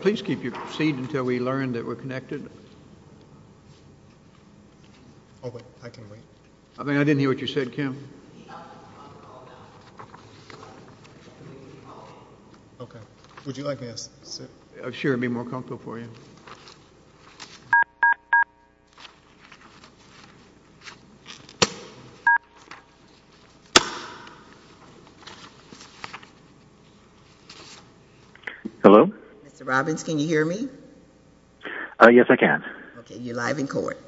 Please keep your seat until we learn that we're connected. I can wait. I didn't hear what you said, Kim. Would you like me to sit? I'm sure it would be more comfortable for you. Hello? Mr. Robbins, can you hear me? Yes, I can. Okay, you're live in court.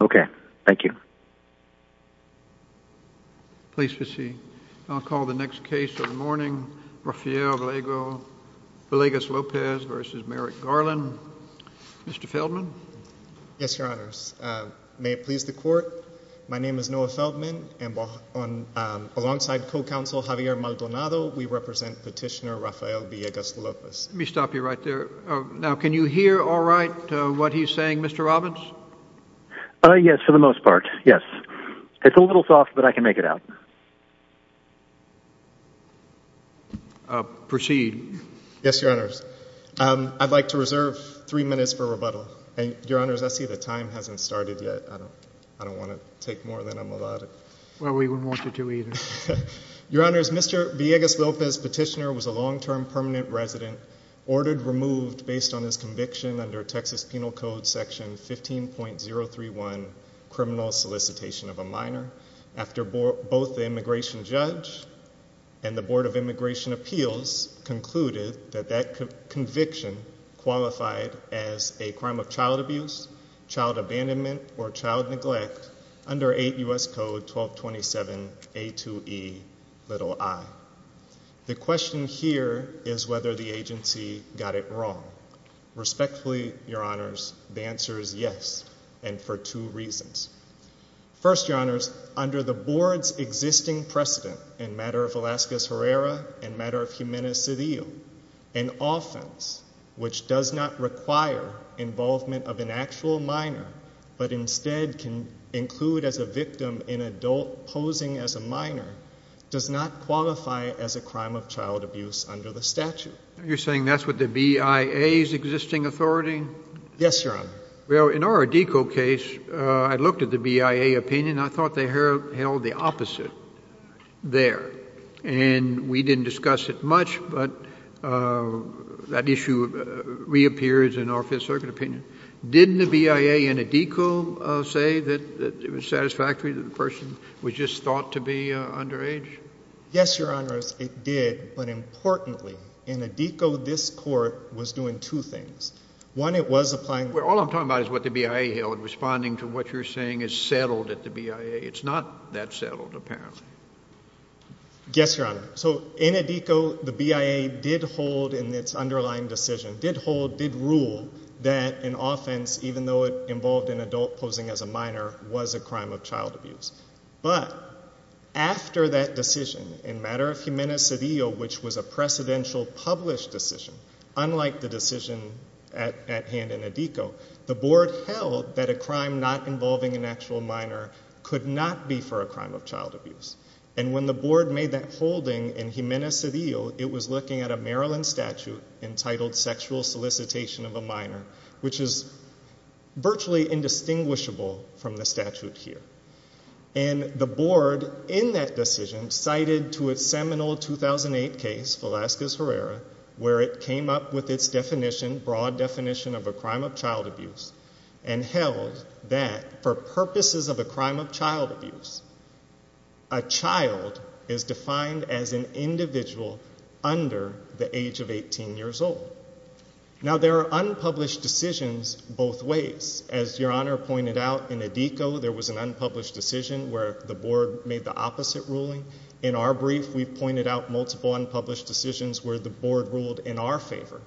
Okay, thank you. Please be seated. I'll call the next case of the morning, Rafael Vallegas-Lopez v. Merrick Garland. Mr. Feldman? Yes, Your Honors. May it please the Court, my name is Noah Feldman, and alongside co-counsel Javier Maldonado, we represent petitioner Rafael Vallegas-Lopez. Let me stop you right there. Now, can you hear all right what he's saying, Mr. Robbins? Yes, for the most part, yes. It's a little soft, but I can make it out. Proceed. Yes, Your Honors. I'd like to reserve three minutes for rebuttal. Your Honors, I see the time hasn't started yet. I don't want to take more than I'm allowed. Well, we wouldn't want you to either. Your Honors, Mr. Vallegas-Lopez, petitioner, was a long-term permanent resident, ordered removed based on his conviction under Texas Penal Code Section 15.031, criminal solicitation of a minor, after both the immigration judge and the Board of Immigration Appeals concluded that that conviction qualified as a crime of child abuse, child abandonment, or child neglect under 8 U.S. Code 1227A2Ei. The question here is whether the agency got it wrong. Respectfully, Your Honors, the answer is yes, and for two reasons. First, Your Honors, under the Board's existing precedent in matter of Velazquez-Herrera and matter of Jimenez-Cedillo, an offense which does not require involvement of an actual minor, but instead can include as a victim an adult posing as a minor, does not qualify as a crime of child abuse under the statute. You're saying that's with the BIA's existing authority? Yes, Your Honor. Well, in our ADECO case, I looked at the BIA opinion, and I thought they held the opposite there. And we didn't discuss it much, but that issue reappears in our Fifth Circuit opinion. Didn't the BIA in ADECO say that it was satisfactory that the person was just thought to be underage? Yes, Your Honors, it did. But importantly, in ADECO, this Court was doing two things. One, it was applying... Well, all I'm talking about is what the BIA held, responding to what you're saying is settled at the BIA. It's not that settled, apparently. Yes, Your Honor. So in ADECO, the BIA did hold in its underlying decision, did hold, did rule that an offense, even though it involved an adult posing as a minor, was a crime of child abuse. But after that decision, in matter of humana sedio, which was a precedential published decision, unlike the decision at hand in ADECO, the Board held that a crime not involving an actual minor could not be for a crime of child abuse. And when the Board made that holding in humana sedio, it was looking at a Maryland statute entitled sexual solicitation of a minor, which is virtually indistinguishable from the statute here. And the Board, in that decision, cited to its seminal 2008 case, Velazquez-Herrera, where it came up with its definition, broad definition of a crime of child abuse, and held that for purposes of a crime of child abuse, a child is defined as an individual under the age of 18 years old. Now, there are unpublished decisions both ways. As Your Honor pointed out, in ADECO, there was an unpublished decision where the Board made the opposite ruling. In our brief, we've pointed out multiple unpublished decisions where the Board ruled in our favor.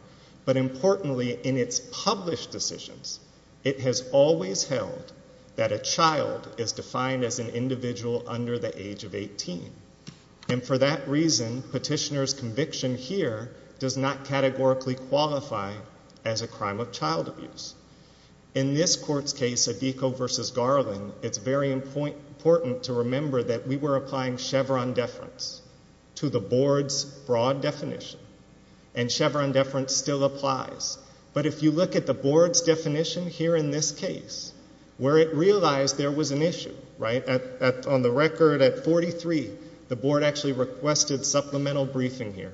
But importantly, in its published decisions, it has always held that a child is defined as an individual under the age of 18. And for that reason, petitioner's conviction here does not categorically qualify as a crime of child abuse. In this Court's case, ADECO v. Garland, it's very important to remember that we were applying Chevron deference to the Board's broad definition. And Chevron deference still applies. But if you look at the Board's definition here in this case, where it realized there was an issue, right? On the record, at 43, the Board actually requested supplemental briefing here.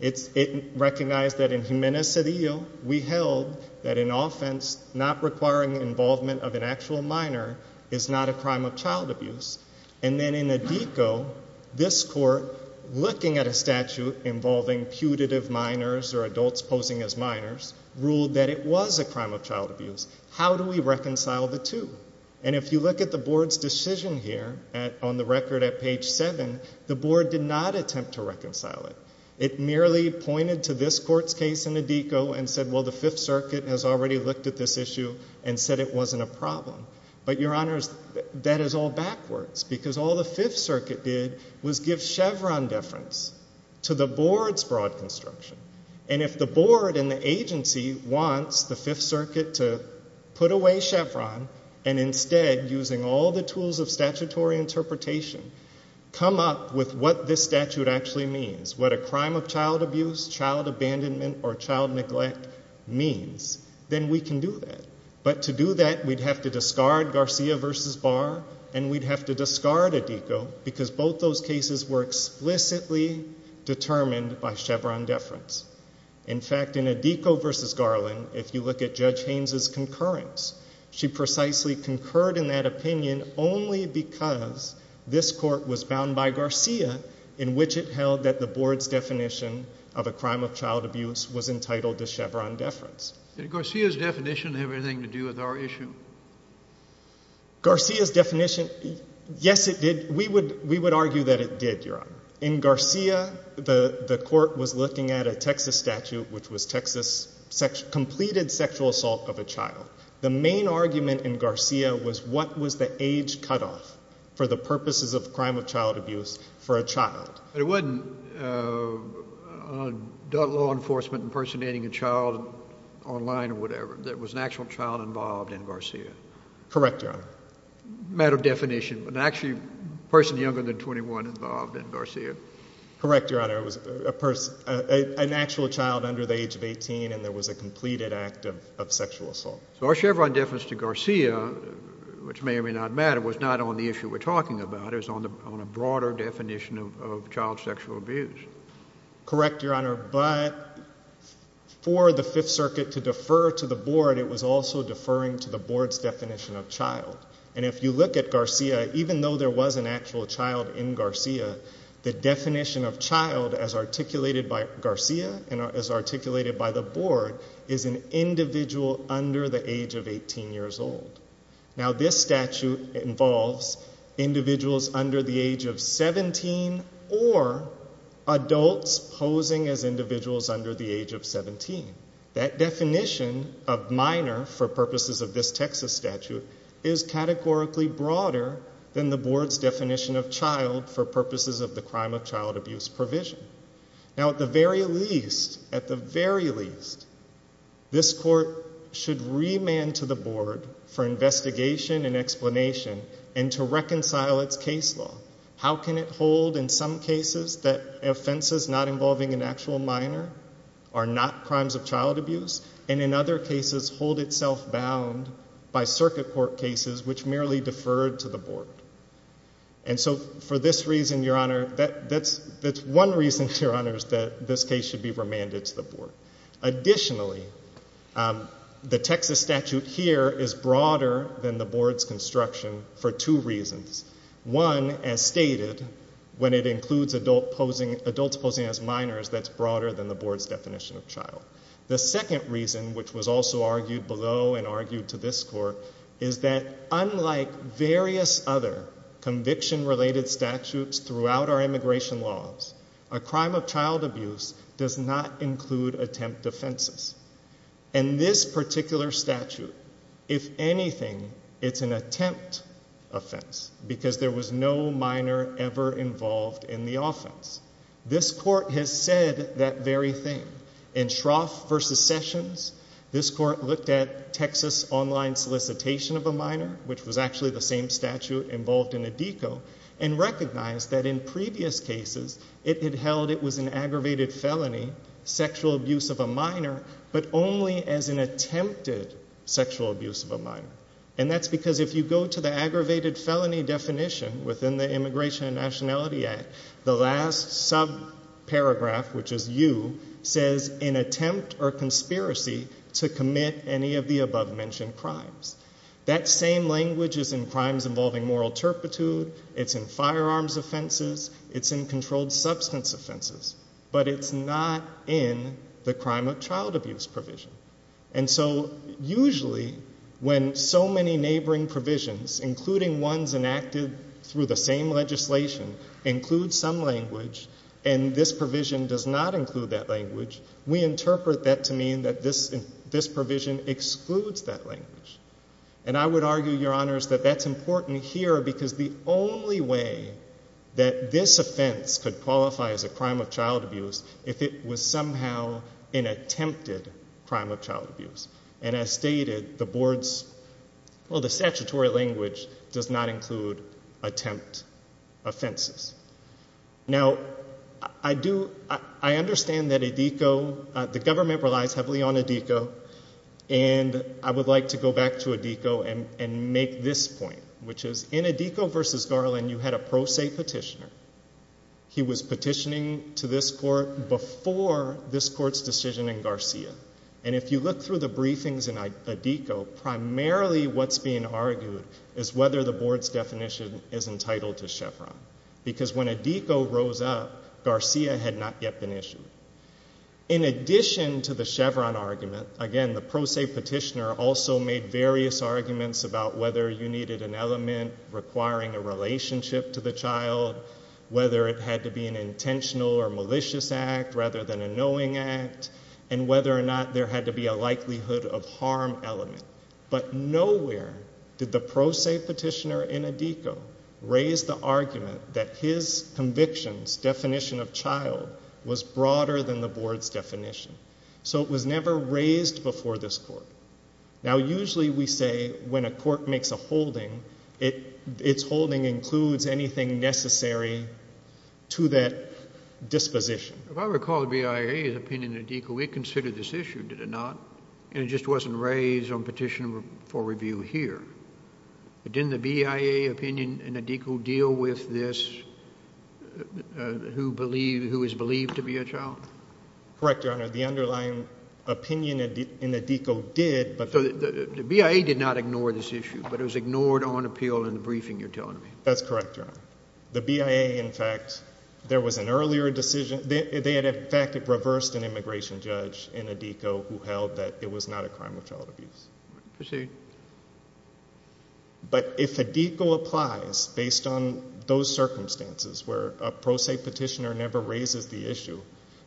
It recognized that in Gimenez-Cedillo, we held that in offense, not requiring involvement of an actual minor is not a crime of child abuse. And then in ADECO, this Court, looking at a statute involving putative minors or adults posing as minors, ruled that it was a crime of child abuse. How do we reconcile the two? And if you look at the Board's decision here, on the record at page 7, the Board did not attempt to reconcile it. It merely pointed to this Court's case in ADECO and said, well, the Fifth Circuit has already looked at this issue and said it wasn't a problem. But, Your Honors, that is all backwards, because all the Fifth Circuit did was give Chevron deference to the Board's broad construction. And if the Board and the agency wants the Fifth Circuit to put away Chevron and instead, using all the tools of statutory interpretation, come up with what this statute actually means, what a crime of child abuse, child abandonment or child neglect means, then we can do that. But to do that, we'd have to discard Garcia v. Barr and we'd have to discard ADECO, because both those cases were explicitly determined by Chevron deference. In fact, in ADECO v. Garland, if you look at Judge Haynes' concurrence, she precisely concurred in that opinion only because this Court was bound by Garcia, in which it held that the Board's definition of a crime of child abuse was entitled to Chevron deference. Did Garcia's definition have anything to do with our issue? Garcia's definition... Yes, it did. We would argue that it did, Your Honor. In Garcia, the Court was looking at a Texas statute, which was Texas... Completed sexual assault of a child. The main argument in Garcia was what was the age cut-off for the purposes of crime of child abuse for a child. But it wasn't law enforcement impersonating a child online or whatever. There was an actual child involved in Garcia. Correct, Your Honor. Matter of definition, but actually a person younger than 21 involved in Garcia. Correct, Your Honor. An actual child under the age of 18, and there was a completed act of sexual assault. So our Chevron deference to Garcia, which may or may not matter, was not on the issue we're talking about. It was on a broader definition of child sexual abuse. Correct, Your Honor. But for the Fifth Circuit to defer to the Board, it was also deferring to the Board's definition of child. And if you look at Garcia, even though there was an actual child in Garcia, the definition of child as articulated by Garcia and as articulated by the Board is an individual under the age of 18 years old. Now, this statute involves individuals under the age of 17 or adults posing as individuals under the age of 17. That definition of minor for purposes of this Texas statute is categorically broader than the Board's definition of child for purposes of the crime of child abuse provision. Now, at the very least, at the very least, this Court should remand to the Board for investigation and explanation and to reconcile its case law. How can it hold in some cases that offenses not involving an actual minor are not crimes of child abuse, and in other cases hold itself bound by Circuit Court cases which merely deferred to the Board? And so for this reason, Your Honor, that's one reason, Your Honors, that this case should be remanded to the Board. Additionally, the Texas statute here is broader than the Board's construction for two reasons. One, as stated, when it includes adults posing as minors, that's broader than the Board's definition of child. The second reason, which was also argued below and argued to this Court, is that unlike various other conviction-related statutes throughout our immigration laws, a crime of child abuse does not include attempt offenses. In this particular statute, if anything, it's an attempt offense because there was no minor ever involved in the offense. This Court has said that very thing. In Shroff v. Sessions, this Court looked at Texas online solicitation of a minor, which was actually the same statute involved in a DECO, and recognized that in previous cases it had held it was an aggravated felony, sexual abuse of a minor, but only as an attempted sexual abuse of a minor. And that's because if you go to the aggravated felony definition within the Immigration and Nationality Act, the last subparagraph, which is U, says in attempt or conspiracy to commit any of the above-mentioned crimes. That same language is in crimes involving moral turpitude, it's in firearms offenses, it's in controlled substance offenses, but it's not in the crime of child abuse provision. And so usually when so many neighboring provisions, including ones enacted through the same legislation, include some language, and this provision does not include that language, we interpret that to mean that this provision excludes that language. And I would argue, Your Honors, that that's important here because the only way that this offense could qualify as a crime of child abuse if it was somehow an attempted crime of child abuse. And as stated, the board's... Well, the statutory language does not include attempt offenses. Now, I understand that ADECO... The government relies heavily on ADECO, and I would like to go back to ADECO and make this point, which is in ADECO v. Garland, you had a pro se petitioner. He was petitioning to this court before this court's decision in Garcia. And if you look through the briefings in ADECO, primarily what's being argued is whether the board's definition is entitled to Chevron, because when ADECO rose up, Garcia had not yet been issued. In addition to the Chevron argument, again, the pro se petitioner also made various arguments about whether you needed an element requiring a relationship to the child, whether it had to be an intentional or malicious act rather than a knowing act, and whether or not there had to be a likelihood of harm element. But nowhere did the pro se petitioner in ADECO raise the argument that his conviction's definition of child was broader than the board's definition. So it was never raised before this court. Now, usually we say when a court makes a holding, its holding includes anything necessary to that disposition. If I recall BIA's opinion in ADECO, we considered this issue, did it not? And it just wasn't raised on petition for review here. But didn't the BIA opinion in ADECO deal with this, who is believed to be a child? Correct, Your Honor. The underlying opinion in ADECO did, but... The BIA did not ignore this issue, but it was ignored on appeal in the briefing you're telling me. That's correct, Your Honor. The BIA, in fact, there was an earlier decision. They had, in fact, reversed an immigration judge in ADECO who held that it was not a crime of child abuse. Proceed. But if ADECO applies based on those circumstances where a pro se petitioner never raises the issue,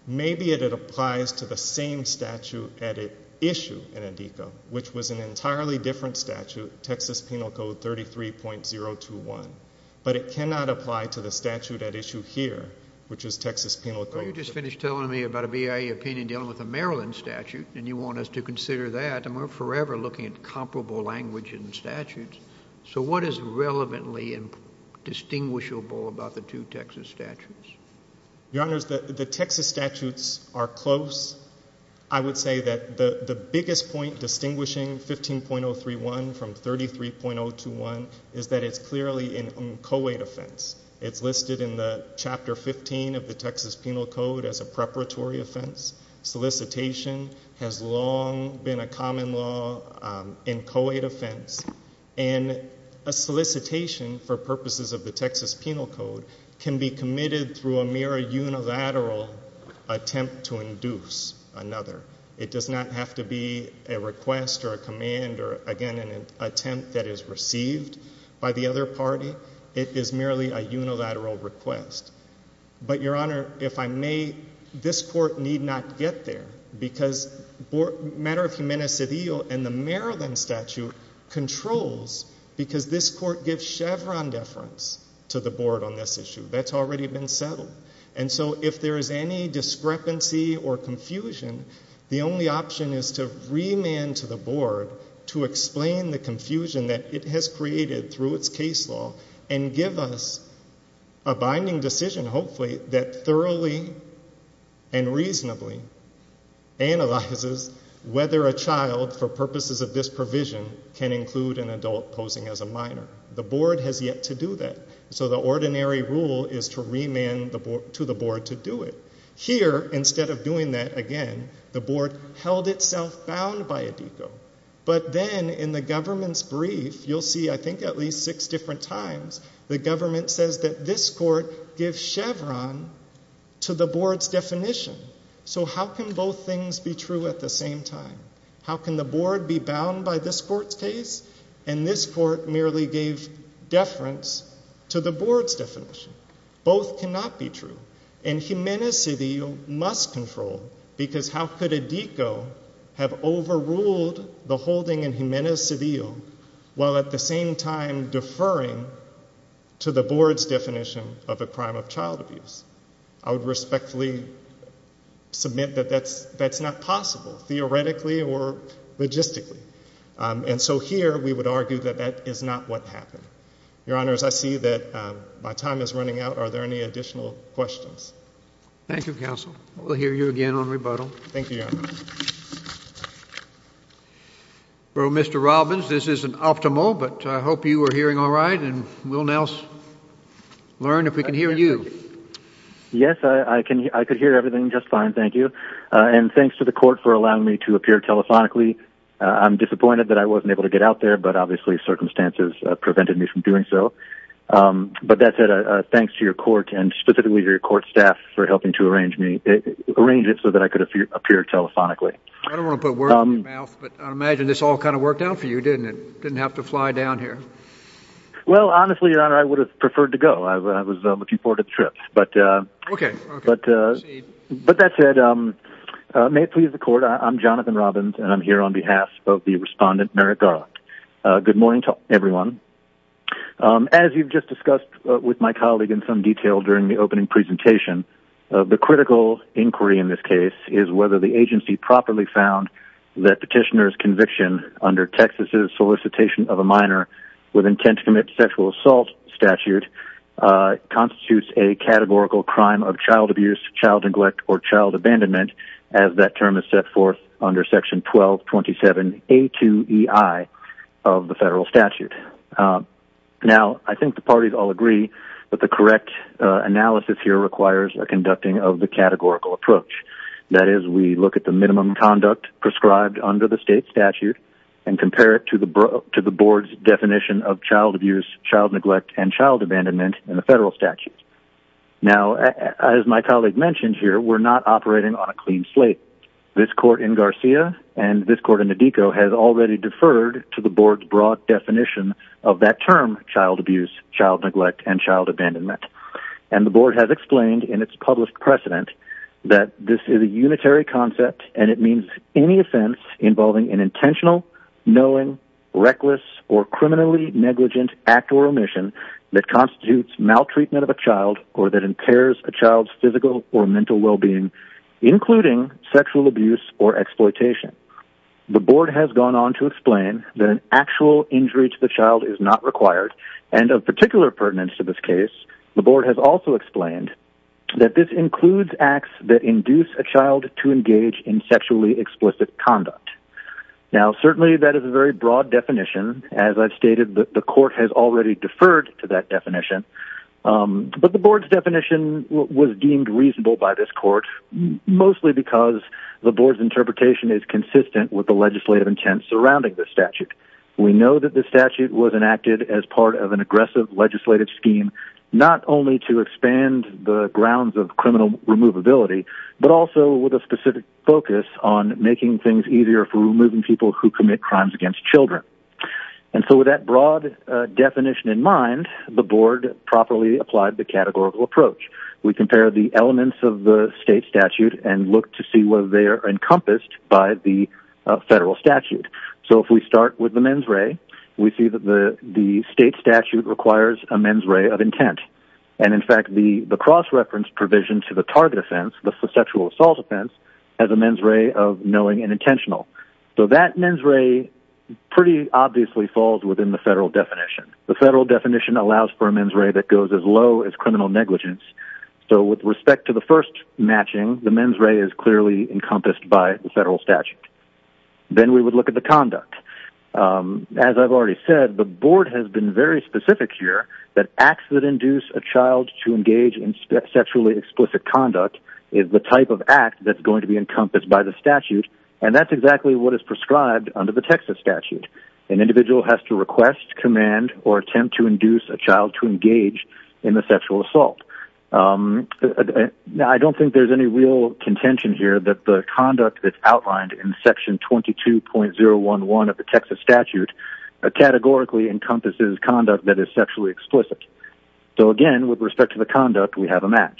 maybe it applies to the same statute at issue in ADECO, which was an entirely different statute, Texas Penal Code 33.021. But it cannot apply to the statute at issue here, which is Texas Penal Code... You just finished telling me about a BIA opinion dealing with a Maryland statute, and you want us to consider that, and we're forever looking at comparable language in the statutes. So what is relevantly distinguishable about the two Texas statutes? Your Honors, the Texas statutes are close. I would say that the biggest point distinguishing 15.031 from 33.021 is that it's clearly a co-wait offense. It's listed in Chapter 15 of the Texas Penal Code as a preparatory offense. Solicitation has long been a common law and co-wait offense. And a solicitation for purposes of the Texas Penal Code can be committed through a mere unilateral attempt to induce another. It does not have to be a request or a command or, again, an attempt that is received by the other party. It is merely a unilateral request. But, Your Honor, if I may, this Court need not get there because the matter of humanicidio in the Maryland statute controls because this Court gives Chevron deference to the Board on this issue. That's already been settled. And so if there is any discrepancy or confusion, the only option is to remand to the Board to explain the confusion that it has created through its case law and give us a binding decision, hopefully, that thoroughly and reasonably analyzes whether a child, for purposes of this provision, can include an adult posing as a minor. The Board has yet to do that. So the ordinary rule is to remand to the Board to do it. Here, instead of doing that, again, the Board held itself bound by ADECO. But then, in the government's brief, you'll see, I think, at least six different times, the government says that this Court gives Chevron to the Board's definition. So how can both things be true at the same time? How can the Board be bound by this Court's case and this Court merely give deference to the Board's definition? Both cannot be true. And Jimenez-Cedillo must control, because how could ADECO have overruled the holding in Jimenez-Cedillo while at the same time deferring to the Board's definition of a crime of child abuse? I would respectfully submit that that's not possible, theoretically or logistically. And so here we would argue that that is not what happened. Your Honors, I see that my time is running out. Are there any additional questions? Thank you, Counsel. We'll hear you again on rebuttal. Thank you, Your Honors. Mr. Robbins, this isn't optimal, but I hope you were hearing all right, and we'll now learn if we can hear you. Yes, I could hear everything just fine, thank you. And thanks to the Court for allowing me to appear telephonically. I'm disappointed that I wasn't able to get out there, but obviously circumstances prevented me from doing so. But that said, thanks to your Court, and specifically your Court staff for helping to arrange it so that I could appear telephonically. I don't want to put words in your mouth, but I imagine this all kind of worked out for you, didn't it? Didn't have to fly down here. Well, honestly, Your Honor, I would have preferred to go. I was looking forward to the trip. Okay. But that said, may it please the Court, I'm Jonathan Robbins, and I'm here on behalf of the Respondent, Merrick Garland. Good morning to everyone. As you've just discussed with my colleague in some detail during the opening presentation, the critical inquiry in this case is whether the agency properly found that petitioner's conviction under Texas's solicitation of a minor with intent to commit sexual assault statute constitutes a categorical crime of child abuse, child neglect, or child abandonment, as that term is set forth under Section 1227A2EI of the federal statute. Now, I think the parties all agree that the correct analysis here requires a conducting of the categorical approach. That is, we look at the minimum conduct prescribed under the state statute and compare it to the Board's definition of child abuse, child neglect, and child abandonment in the federal statute. Now, as my colleague mentioned here, we're not operating on a clean slate. This court in Garcia and this court in Nodico has already deferred to the Board's broad definition of that term, child abuse, child neglect, and child abandonment. And the Board has explained in its published precedent that this is a unitary concept, and it means any offense involving an intentional, knowing, reckless, or criminally negligent act or omission that constitutes maltreatment of a child or that impairs a child's physical or mental well-being, including sexual abuse or exploitation. The Board has gone on to explain that an actual injury to the child is not required, and of particular pertinence to this case, the Board has also explained that this includes acts that induce a child to engage in sexually explicit conduct. Now, certainly that is a very broad definition. As I've stated, the court has already deferred to that definition. But the Board's definition was deemed reasonable by this court, mostly because the Board's interpretation is consistent with the legislative intent surrounding the statute. We know that the statute was enacted as part of an aggressive legislative scheme, not only to expand the grounds of criminal removability, but also with a specific focus on making things easier for removing people who commit crimes against children. And so with that broad definition in mind, the Board properly applied the categorical approach. We compared the elements of the state statute and looked to see whether they are encompassed by the federal statute. So if we start with the mens re, we see that the state statute requires a mens re of intent. And, in fact, the cross-reference provision to the target offense, the subjectual assault offense, has a mens re of knowing and intentional. So that mens re pretty obviously falls within the federal definition. The federal definition allows for a mens re that goes as low as criminal negligence. So with respect to the first matching, the mens re is clearly encompassed by the federal statute. Then we would look at the conduct. As I've already said, the Board has been very specific here that acts that induce a child to engage in sexually explicit conduct is the type of act that's going to be encompassed by the statute, and that's exactly what is prescribed under the Texas statute. An individual has to request, command, or attempt to induce a child to engage in a sexual assault. I don't think there's any real contention here that the conduct that's outlined in Section 22.011 of the Texas statute categorically encompasses conduct that is sexually explicit. So, again, with respect to the conduct, we have a match.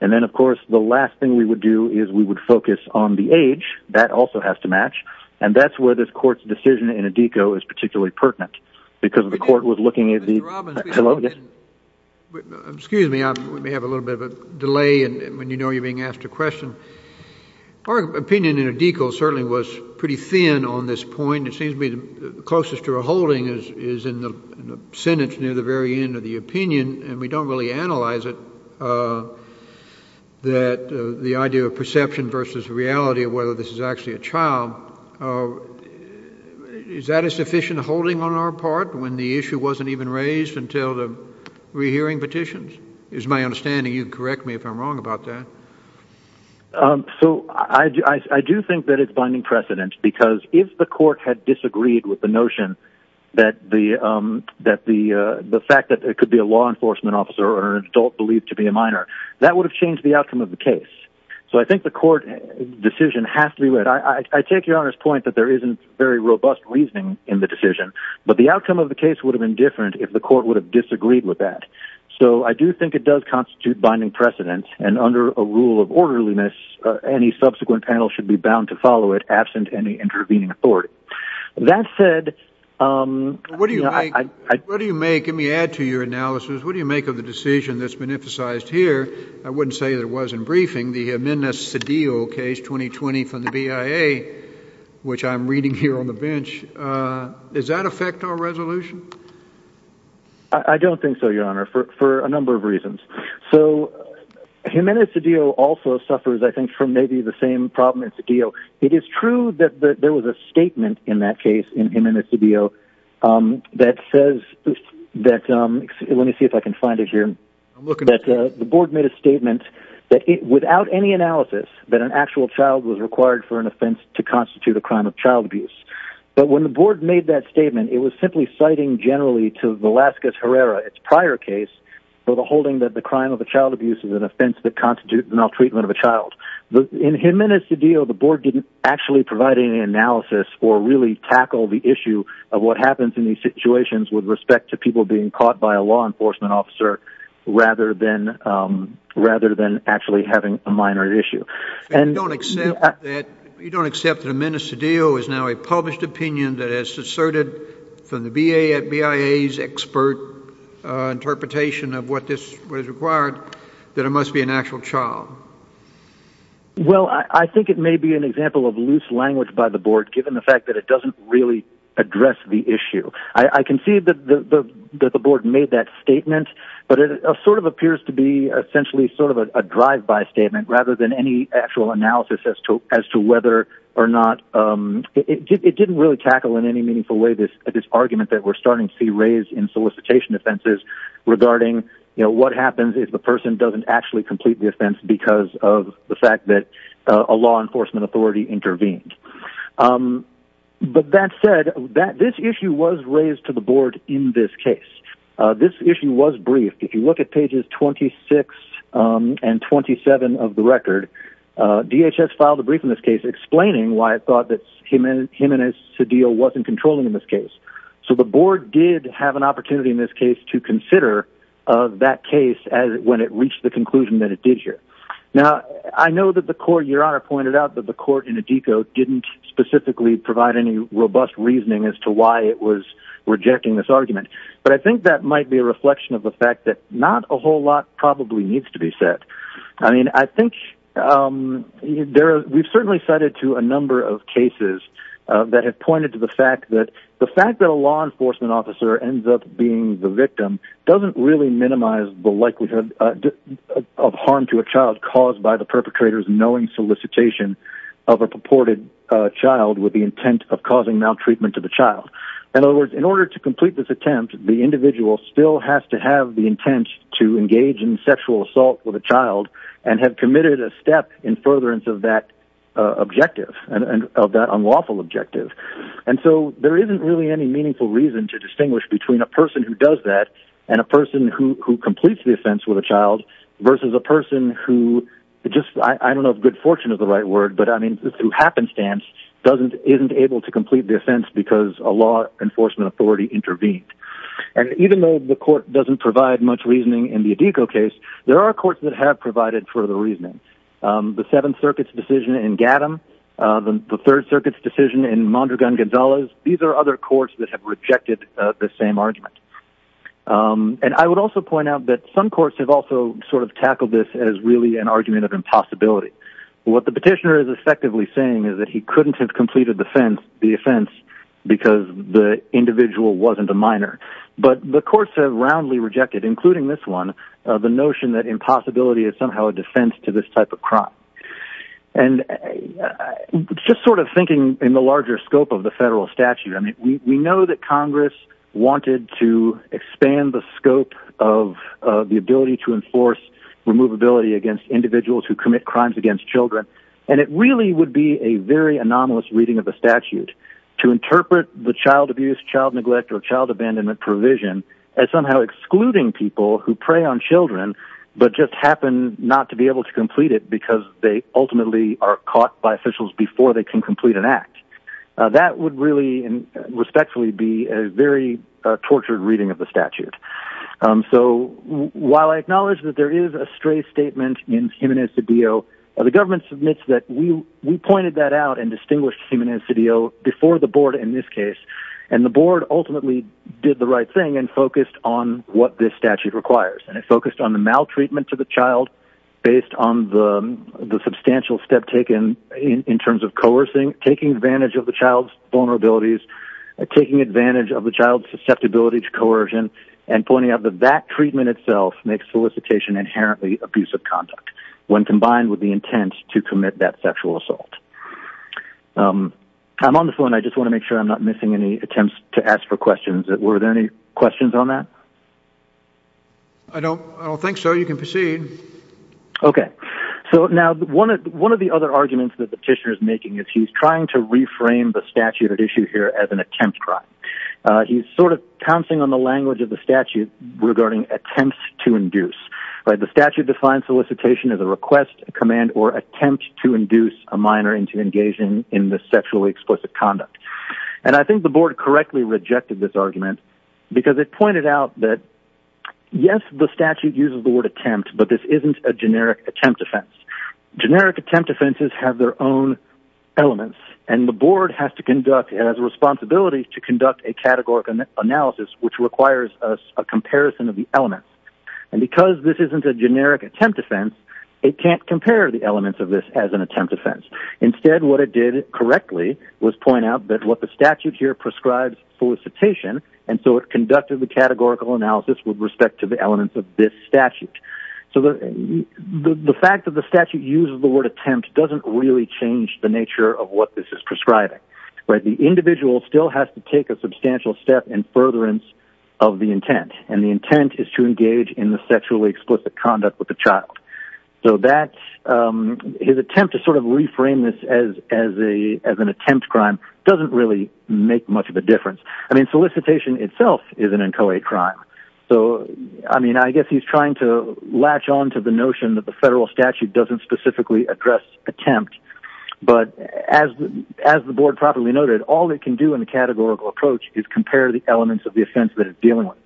And then, of course, the last thing we would do is we would focus on the age. That also has to match. And that's where this court's decision in ADECO is particularly pertinent because the court was looking at the... Mr. Robbins, excuse me. I may have a little bit of a delay when you know you're being asked a question. Our opinion in ADECO certainly was pretty thin on this point. It seems to me the closest to a holding is in the sentence near the very end of the opinion, and we don't really analyze it, that the idea of perception versus reality of whether this is actually a child, is that a sufficient holding on our part when the issue wasn't even raised until the rehearing petitions? It's my understanding. You can correct me if I'm wrong about that. So I do think that it's binding precedent because if the court had disagreed with the notion that the fact that there could be a law enforcement officer or an adult believed to be a minor, that would have changed the outcome of the case. So I think the court decision has to be read. I take Your Honor's point that there isn't very robust reasoning in the decision, but the outcome of the case would have been different if the court would have disagreed with that. So I do think it does constitute binding precedent, and under a rule of orderliness, any subsequent panel should be bound to follow it absent any intervening authority. That said... What do you make? Let me add to your analysis. What do you make of the decision that's been emphasized here? I wouldn't say that it was in briefing. The Jimenez-Cedillo case, 2020, from the BIA, which I'm reading here on the bench, does that affect our resolution? I don't think so, Your Honor, for a number of reasons. So Jimenez-Cedillo also suffers, I think, from maybe the same problem as Cedillo. It is true that there was a statement in that case, in Jimenez-Cedillo, that says... Let me see if I can find it here. I'm looking at it. ...rather than actually having a minor issue. You don't accept that Jimenez-Cedillo is now a published opinion that has asserted from the BIA's expert interpretation of what is required, that it must be an actual trial? Well, I think it may be an example of loose language by the board, given the fact that it doesn't really address the issue. I can see that the board made that statement, but it sort of appears to be essentially sort of a drive-by statement rather than any actual analysis as to whether or not... It didn't really tackle in any meaningful way this argument that we're starting to see raised in solicitation offenses regarding what happens if the person doesn't actually complete the offense because of the fact that a law enforcement authority intervened. But that said, this issue was raised to the board in this case. This issue was briefed. If you look at pages 26 and 27 of the record, DHS filed a brief in this case explaining why it thought that Jimenez-Cedillo wasn't controlling in this case. So the board did have an opportunity in this case to consider that case when it reached the conclusion that it did here. Now, I know that the court, Your Honor, pointed out that the court in Addico didn't specifically provide any robust reasoning as to why it was rejecting this argument. But I think that might be a reflection of the fact that not a whole lot probably needs to be said. I mean, I think there are... We've certainly cited to a number of cases that have pointed to the fact that the fact that a law enforcement officer ends up being the victim doesn't really minimize the likelihood of harm to a child caused by the perpetrator's knowing solicitation of a purported child with the intent of causing maltreatment to the child. In other words, in order to complete this attempt, the individual still has to have the intent to engage in sexual assault with a child and have committed a step in furtherance of that objective, of that unlawful objective. And so there isn't really any meaningful reason to distinguish between a person who does that and a person who completes the offense with a child versus a person who just... I don't know if good fortune is the right word, but I mean, through happenstance, isn't able to complete the offense because a law enforcement authority intervened. And even though the court doesn't provide much reasoning in the Idiko case, there are courts that have provided further reasoning. The Seventh Circuit's decision in Gadham, the Third Circuit's decision in Mondragon-Gonzalez, these are other courts that have rejected the same argument. And I would also point out that some courts have also sort of tackled this as really an argument of impossibility. What the petitioner is effectively saying is that he couldn't have completed the offense because the individual wasn't a minor. But the courts have roundly rejected, including this one, the notion that impossibility is somehow a defense to this type of crime. And just sort of thinking in the larger scope of the federal statute, I mean, we know that Congress wanted to expand the scope of the ability to enforce removability against individuals who commit crimes against children, and it really would be a very anomalous reading of the statute to interpret the child abuse, child neglect, or child abandonment provision as somehow excluding people who prey on children but just happen not to be able to complete it because they ultimately are caught by officials before they can complete an act. That would really, respectfully, be a very tortured reading of the statute. So while I acknowledge that there is a stray statement in Jimenez's appeal, the government admits that we pointed that out and distinguished Jimenez's appeal before the board in this case, and the board ultimately did the right thing and focused on what this statute requires. And it focused on the maltreatment to the child based on the substantial step taken in terms of coercing, taking advantage of the child's vulnerabilities, taking advantage of the child's susceptibility to coercion, and pointing out that that treatment itself makes solicitation inherently abusive conduct when combined with the intent to commit that sexual assault. I'm on the phone. I just want to make sure I'm not missing any attempts to ask for questions. Were there any questions on that? I don't think so. You can proceed. Okay. So now, one of the other arguments that the petitioner is making is he's trying to reframe the statute at issue here as an attempt crime. He's sort of pouncing on the language of the statute regarding attempts to induce. The statute defines solicitation as a request, command, or attempt to induce a minor into engaging in the sexually explicit conduct. And I think the board correctly rejected this argument because it pointed out that, yes, the statute uses the word attempt, but this isn't a generic attempt offense. Generic attempt offenses have their own elements, and the board has to conduct, has a responsibility to conduct a categorical analysis which requires a comparison of the elements. And because this isn't a generic attempt offense, it can't compare the elements of this as an attempt offense. Instead, what it did correctly was point out that what the statute here prescribes solicitation, and so it conducted the categorical analysis with respect to the elements of this statute. The fact that the statute uses the word attempt doesn't really change the nature of what this is prescribing. The individual still has to take a substantial step in furtherance of the intent, and the intent is to engage in the sexually explicit conduct with the child. So his attempt to sort of reframe this as an attempt crime doesn't really make much of a difference. I mean, solicitation itself is an inchoate crime. So, I mean, I guess he's trying to latch on to the notion that the federal statute doesn't specifically address attempt. But as the board properly noted, all it can do in a categorical approach is compare the elements of the offense that it's dealing with.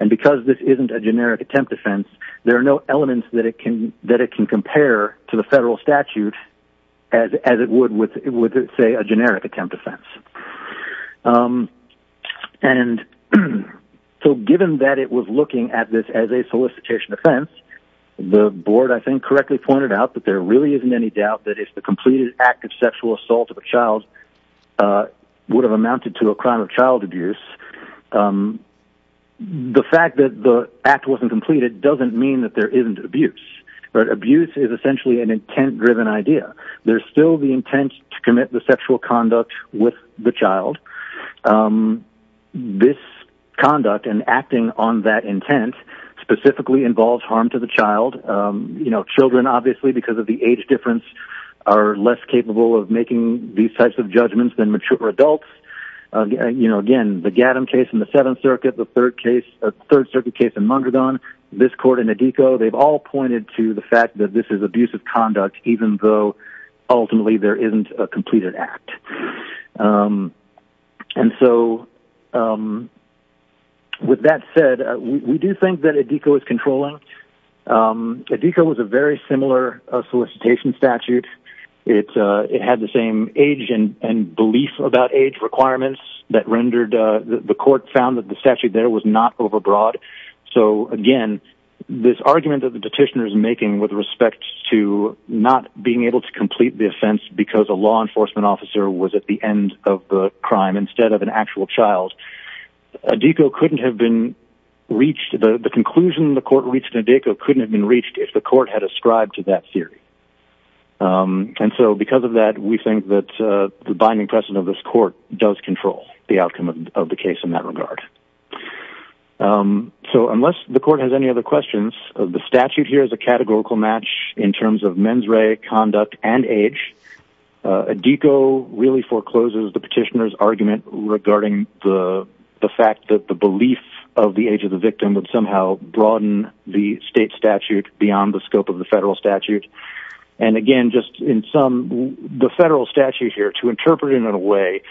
And because this isn't a generic attempt offense, there are no elements that it can compare to the federal statute as it would with, say, a generic attempt offense. And so given that it was looking at this as a solicitation offense, the board I think correctly pointed out that there really isn't any doubt that if the completed act of sexual assault of a child would have amounted to a crime of the fact that the act wasn't completed doesn't mean that there isn't abuse. But abuse is essentially an intent-driven idea. There's still the intent to commit the sexual conduct with the child. This conduct and acting on that intent specifically involves harm to the child. You know, children, obviously, because of the age difference, are less capable of making these types of judgments than mature adults. You know, again, the Gattam case in the Seventh Circuit, the Third Circuit case in Mondragon, this court and ADECO, they've all pointed to the fact that this is abusive conduct even though ultimately there isn't a completed act. And so with that said, we do think that ADECO is controlling. ADECO was a very similar solicitation statute. It had the same age and belief about age requirements that rendered...the court found that the statute there was not overbroad. So, again, this argument that the petitioner is making with respect to not being able to complete the offense because a law enforcement officer was at the end of the crime instead of an actual child, ADECO couldn't have been reached. The conclusion the court reached in ADECO couldn't have been reached if the court had ascribed to that theory. And so because of that, we think that the binding precedent of this court does control the outcome of the case in that regard. So unless the court has any other questions, the statute here is a categorical match in terms of mens rea, conduct, and age. ADECO really forecloses the petitioner's argument regarding the fact that the belief of the age of the victim would somehow broaden the state statute beyond the scope of the federal statute. And again, just in sum, the federal statute here, to interpret it in a way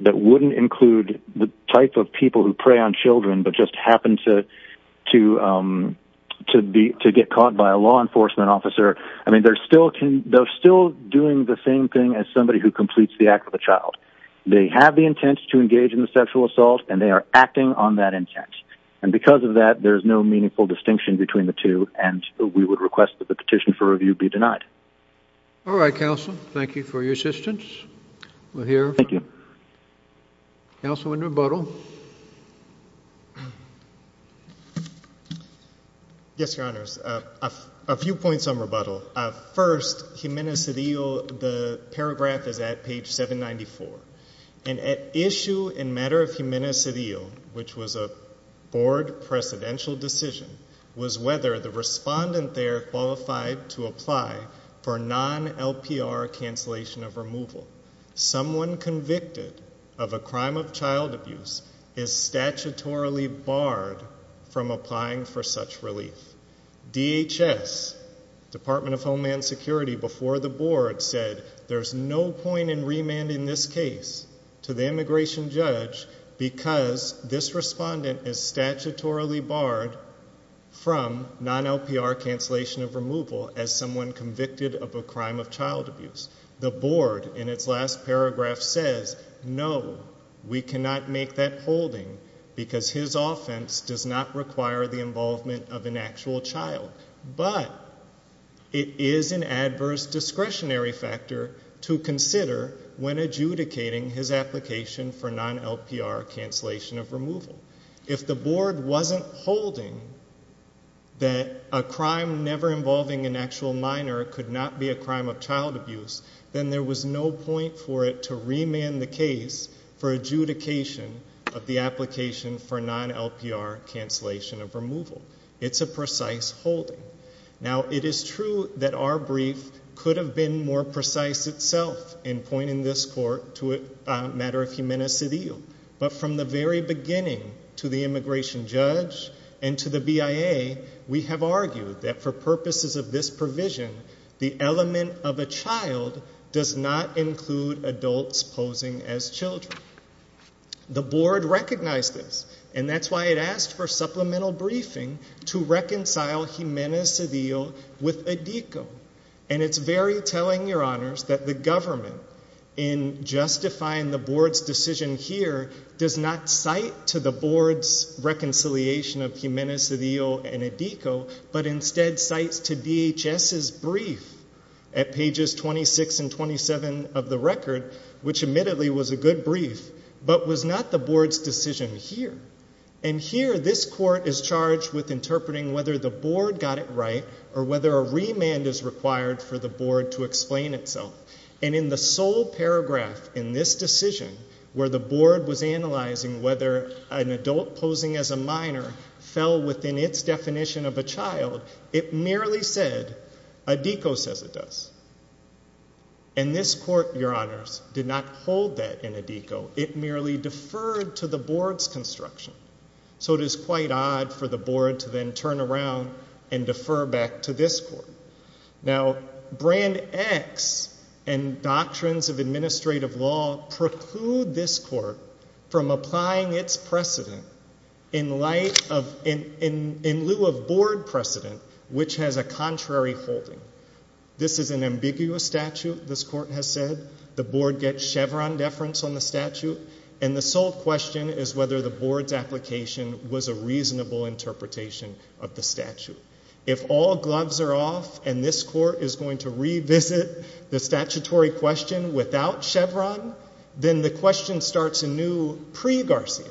that wouldn't include the type of people who prey on children but just happen to get caught by a law enforcement officer, I mean, they're still doing the same thing as somebody who completes the act of the child. They have the intent to engage in the sexual assault, and they are acting on that intent. And because of that, there's no meaningful distinction between the two, and we would request that the petition for review be denied. All right, counsel. Thank you for your assistance. We'll hear from... Thank you. Counsel in rebuttal. Yes, Your Honors. A few points on rebuttal. First, Gimenez-Cedillo, the paragraph is at page 794. And at issue in matter of Gimenez-Cedillo, which was a board presidential decision, was whether the respondent there qualified to apply for non-LPR cancellation of removal. Someone convicted of a crime of child abuse is statutorily barred from applying for such relief. DHS, Department of Homeland Security, before the board, said there's no point in remanding this case to the immigration judge because this respondent is statutorily barred from non-LPR cancellation of removal as someone convicted of a crime of child abuse. The board, in its last paragraph, says no, we cannot make that holding because his offense does not require the involvement of an actual child. But it is an adverse discretionary factor to consider when adjudicating his application for non-LPR cancellation of removal. If the board wasn't holding that a crime never involving an actual minor could not be a crime of child abuse, then there was no point for it to remand the case for adjudication of the application for non-LPR cancellation of removal. It's a precise holding. Now, it is true that our brief could have been more precise itself in pointing this court to a matter of humanicidio, but from the very beginning to the immigration judge and to the BIA, we have argued that for purposes of this provision, the element of a child does not include adults posing as children. The board recognized this, and that's why it to reconcile humanicidio with adhico. And it's very telling, Your Honors, that the government, in justifying the board's decision here, does not cite to the board's reconciliation of humanicidio and adhico, but instead cites to DHS's brief at pages 26 and 27 of the record, which admittedly was a good brief, but was not the board's decision here. And here, this court is charged with interpreting whether the board got it right or whether a remand is required for the board to explain itself. And in the sole paragraph in this decision, where the board was analyzing whether an adult posing as a minor fell within its definition of a child, it merely said adhico says it does. And this court, Your Honors, did not hold that in adhico. It merely deferred to the board's construction. So it is quite odd for the board to then turn around and defer back to this court. Now, Brand X and doctrines of administrative law preclude this court from applying its precedent in light of, in lieu of board precedent which has a contrary holding. This is an ambiguous statute, this court has said. The board gets Chevron deference on the statute, and the sole question is whether the board's application was a reasonable interpretation of the statute. If all gloves are off and this court is going to revisit the statutory question without Chevron, then the question starts anew pre-Garcia.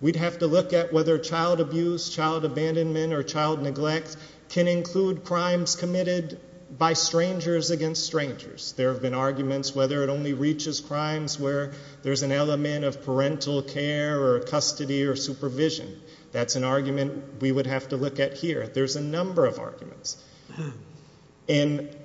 We'd have to look at whether child abuse, child abandonment, or child neglect can include crimes committed by strangers against strangers. There have been arguments whether it only reaches crimes where there's an element of parental care or custody or supervision. That's an argument we would have to look at here. There's a number of arguments. And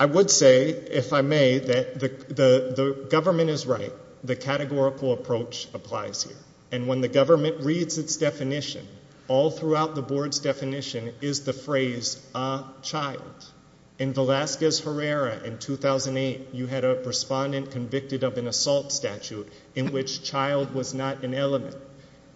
I would say, if I may, that the government is right. The categorical approach applies here. And when the government reads its definition, all throughout the board's definition is the phrase, a child. In Velasquez Herrera in 2008, you had a respondent convicted of an offense where the child was not an element.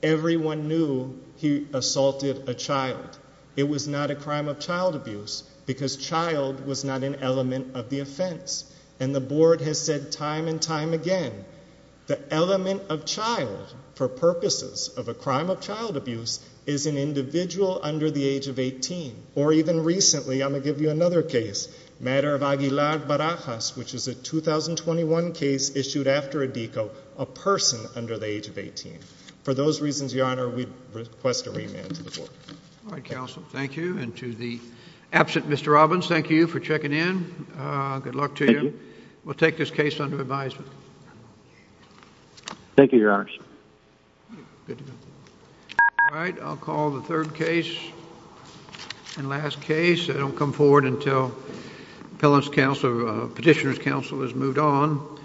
Everyone knew he assaulted a child. It was not a crime of child abuse because child was not an element of the offense. And the board has said time and time again, the element of child for purposes of a crime of child abuse is an individual under the age of 18. Or even recently, I'm going to give you another case, matter of Aguilar Barajas, which is a 2021 case issued after a DECO, a person under the age of 18. For those reasons, Your Honor, we request a remand to the board. All right, counsel. Thank you. And to the absent Mr. Robbins, thank you for checking in. Good luck to you. We'll take this case under advisement. Thank you, Your Honor. All right. I'll call the third case and last case. I don't come forward until Petitioner's Council has moved on.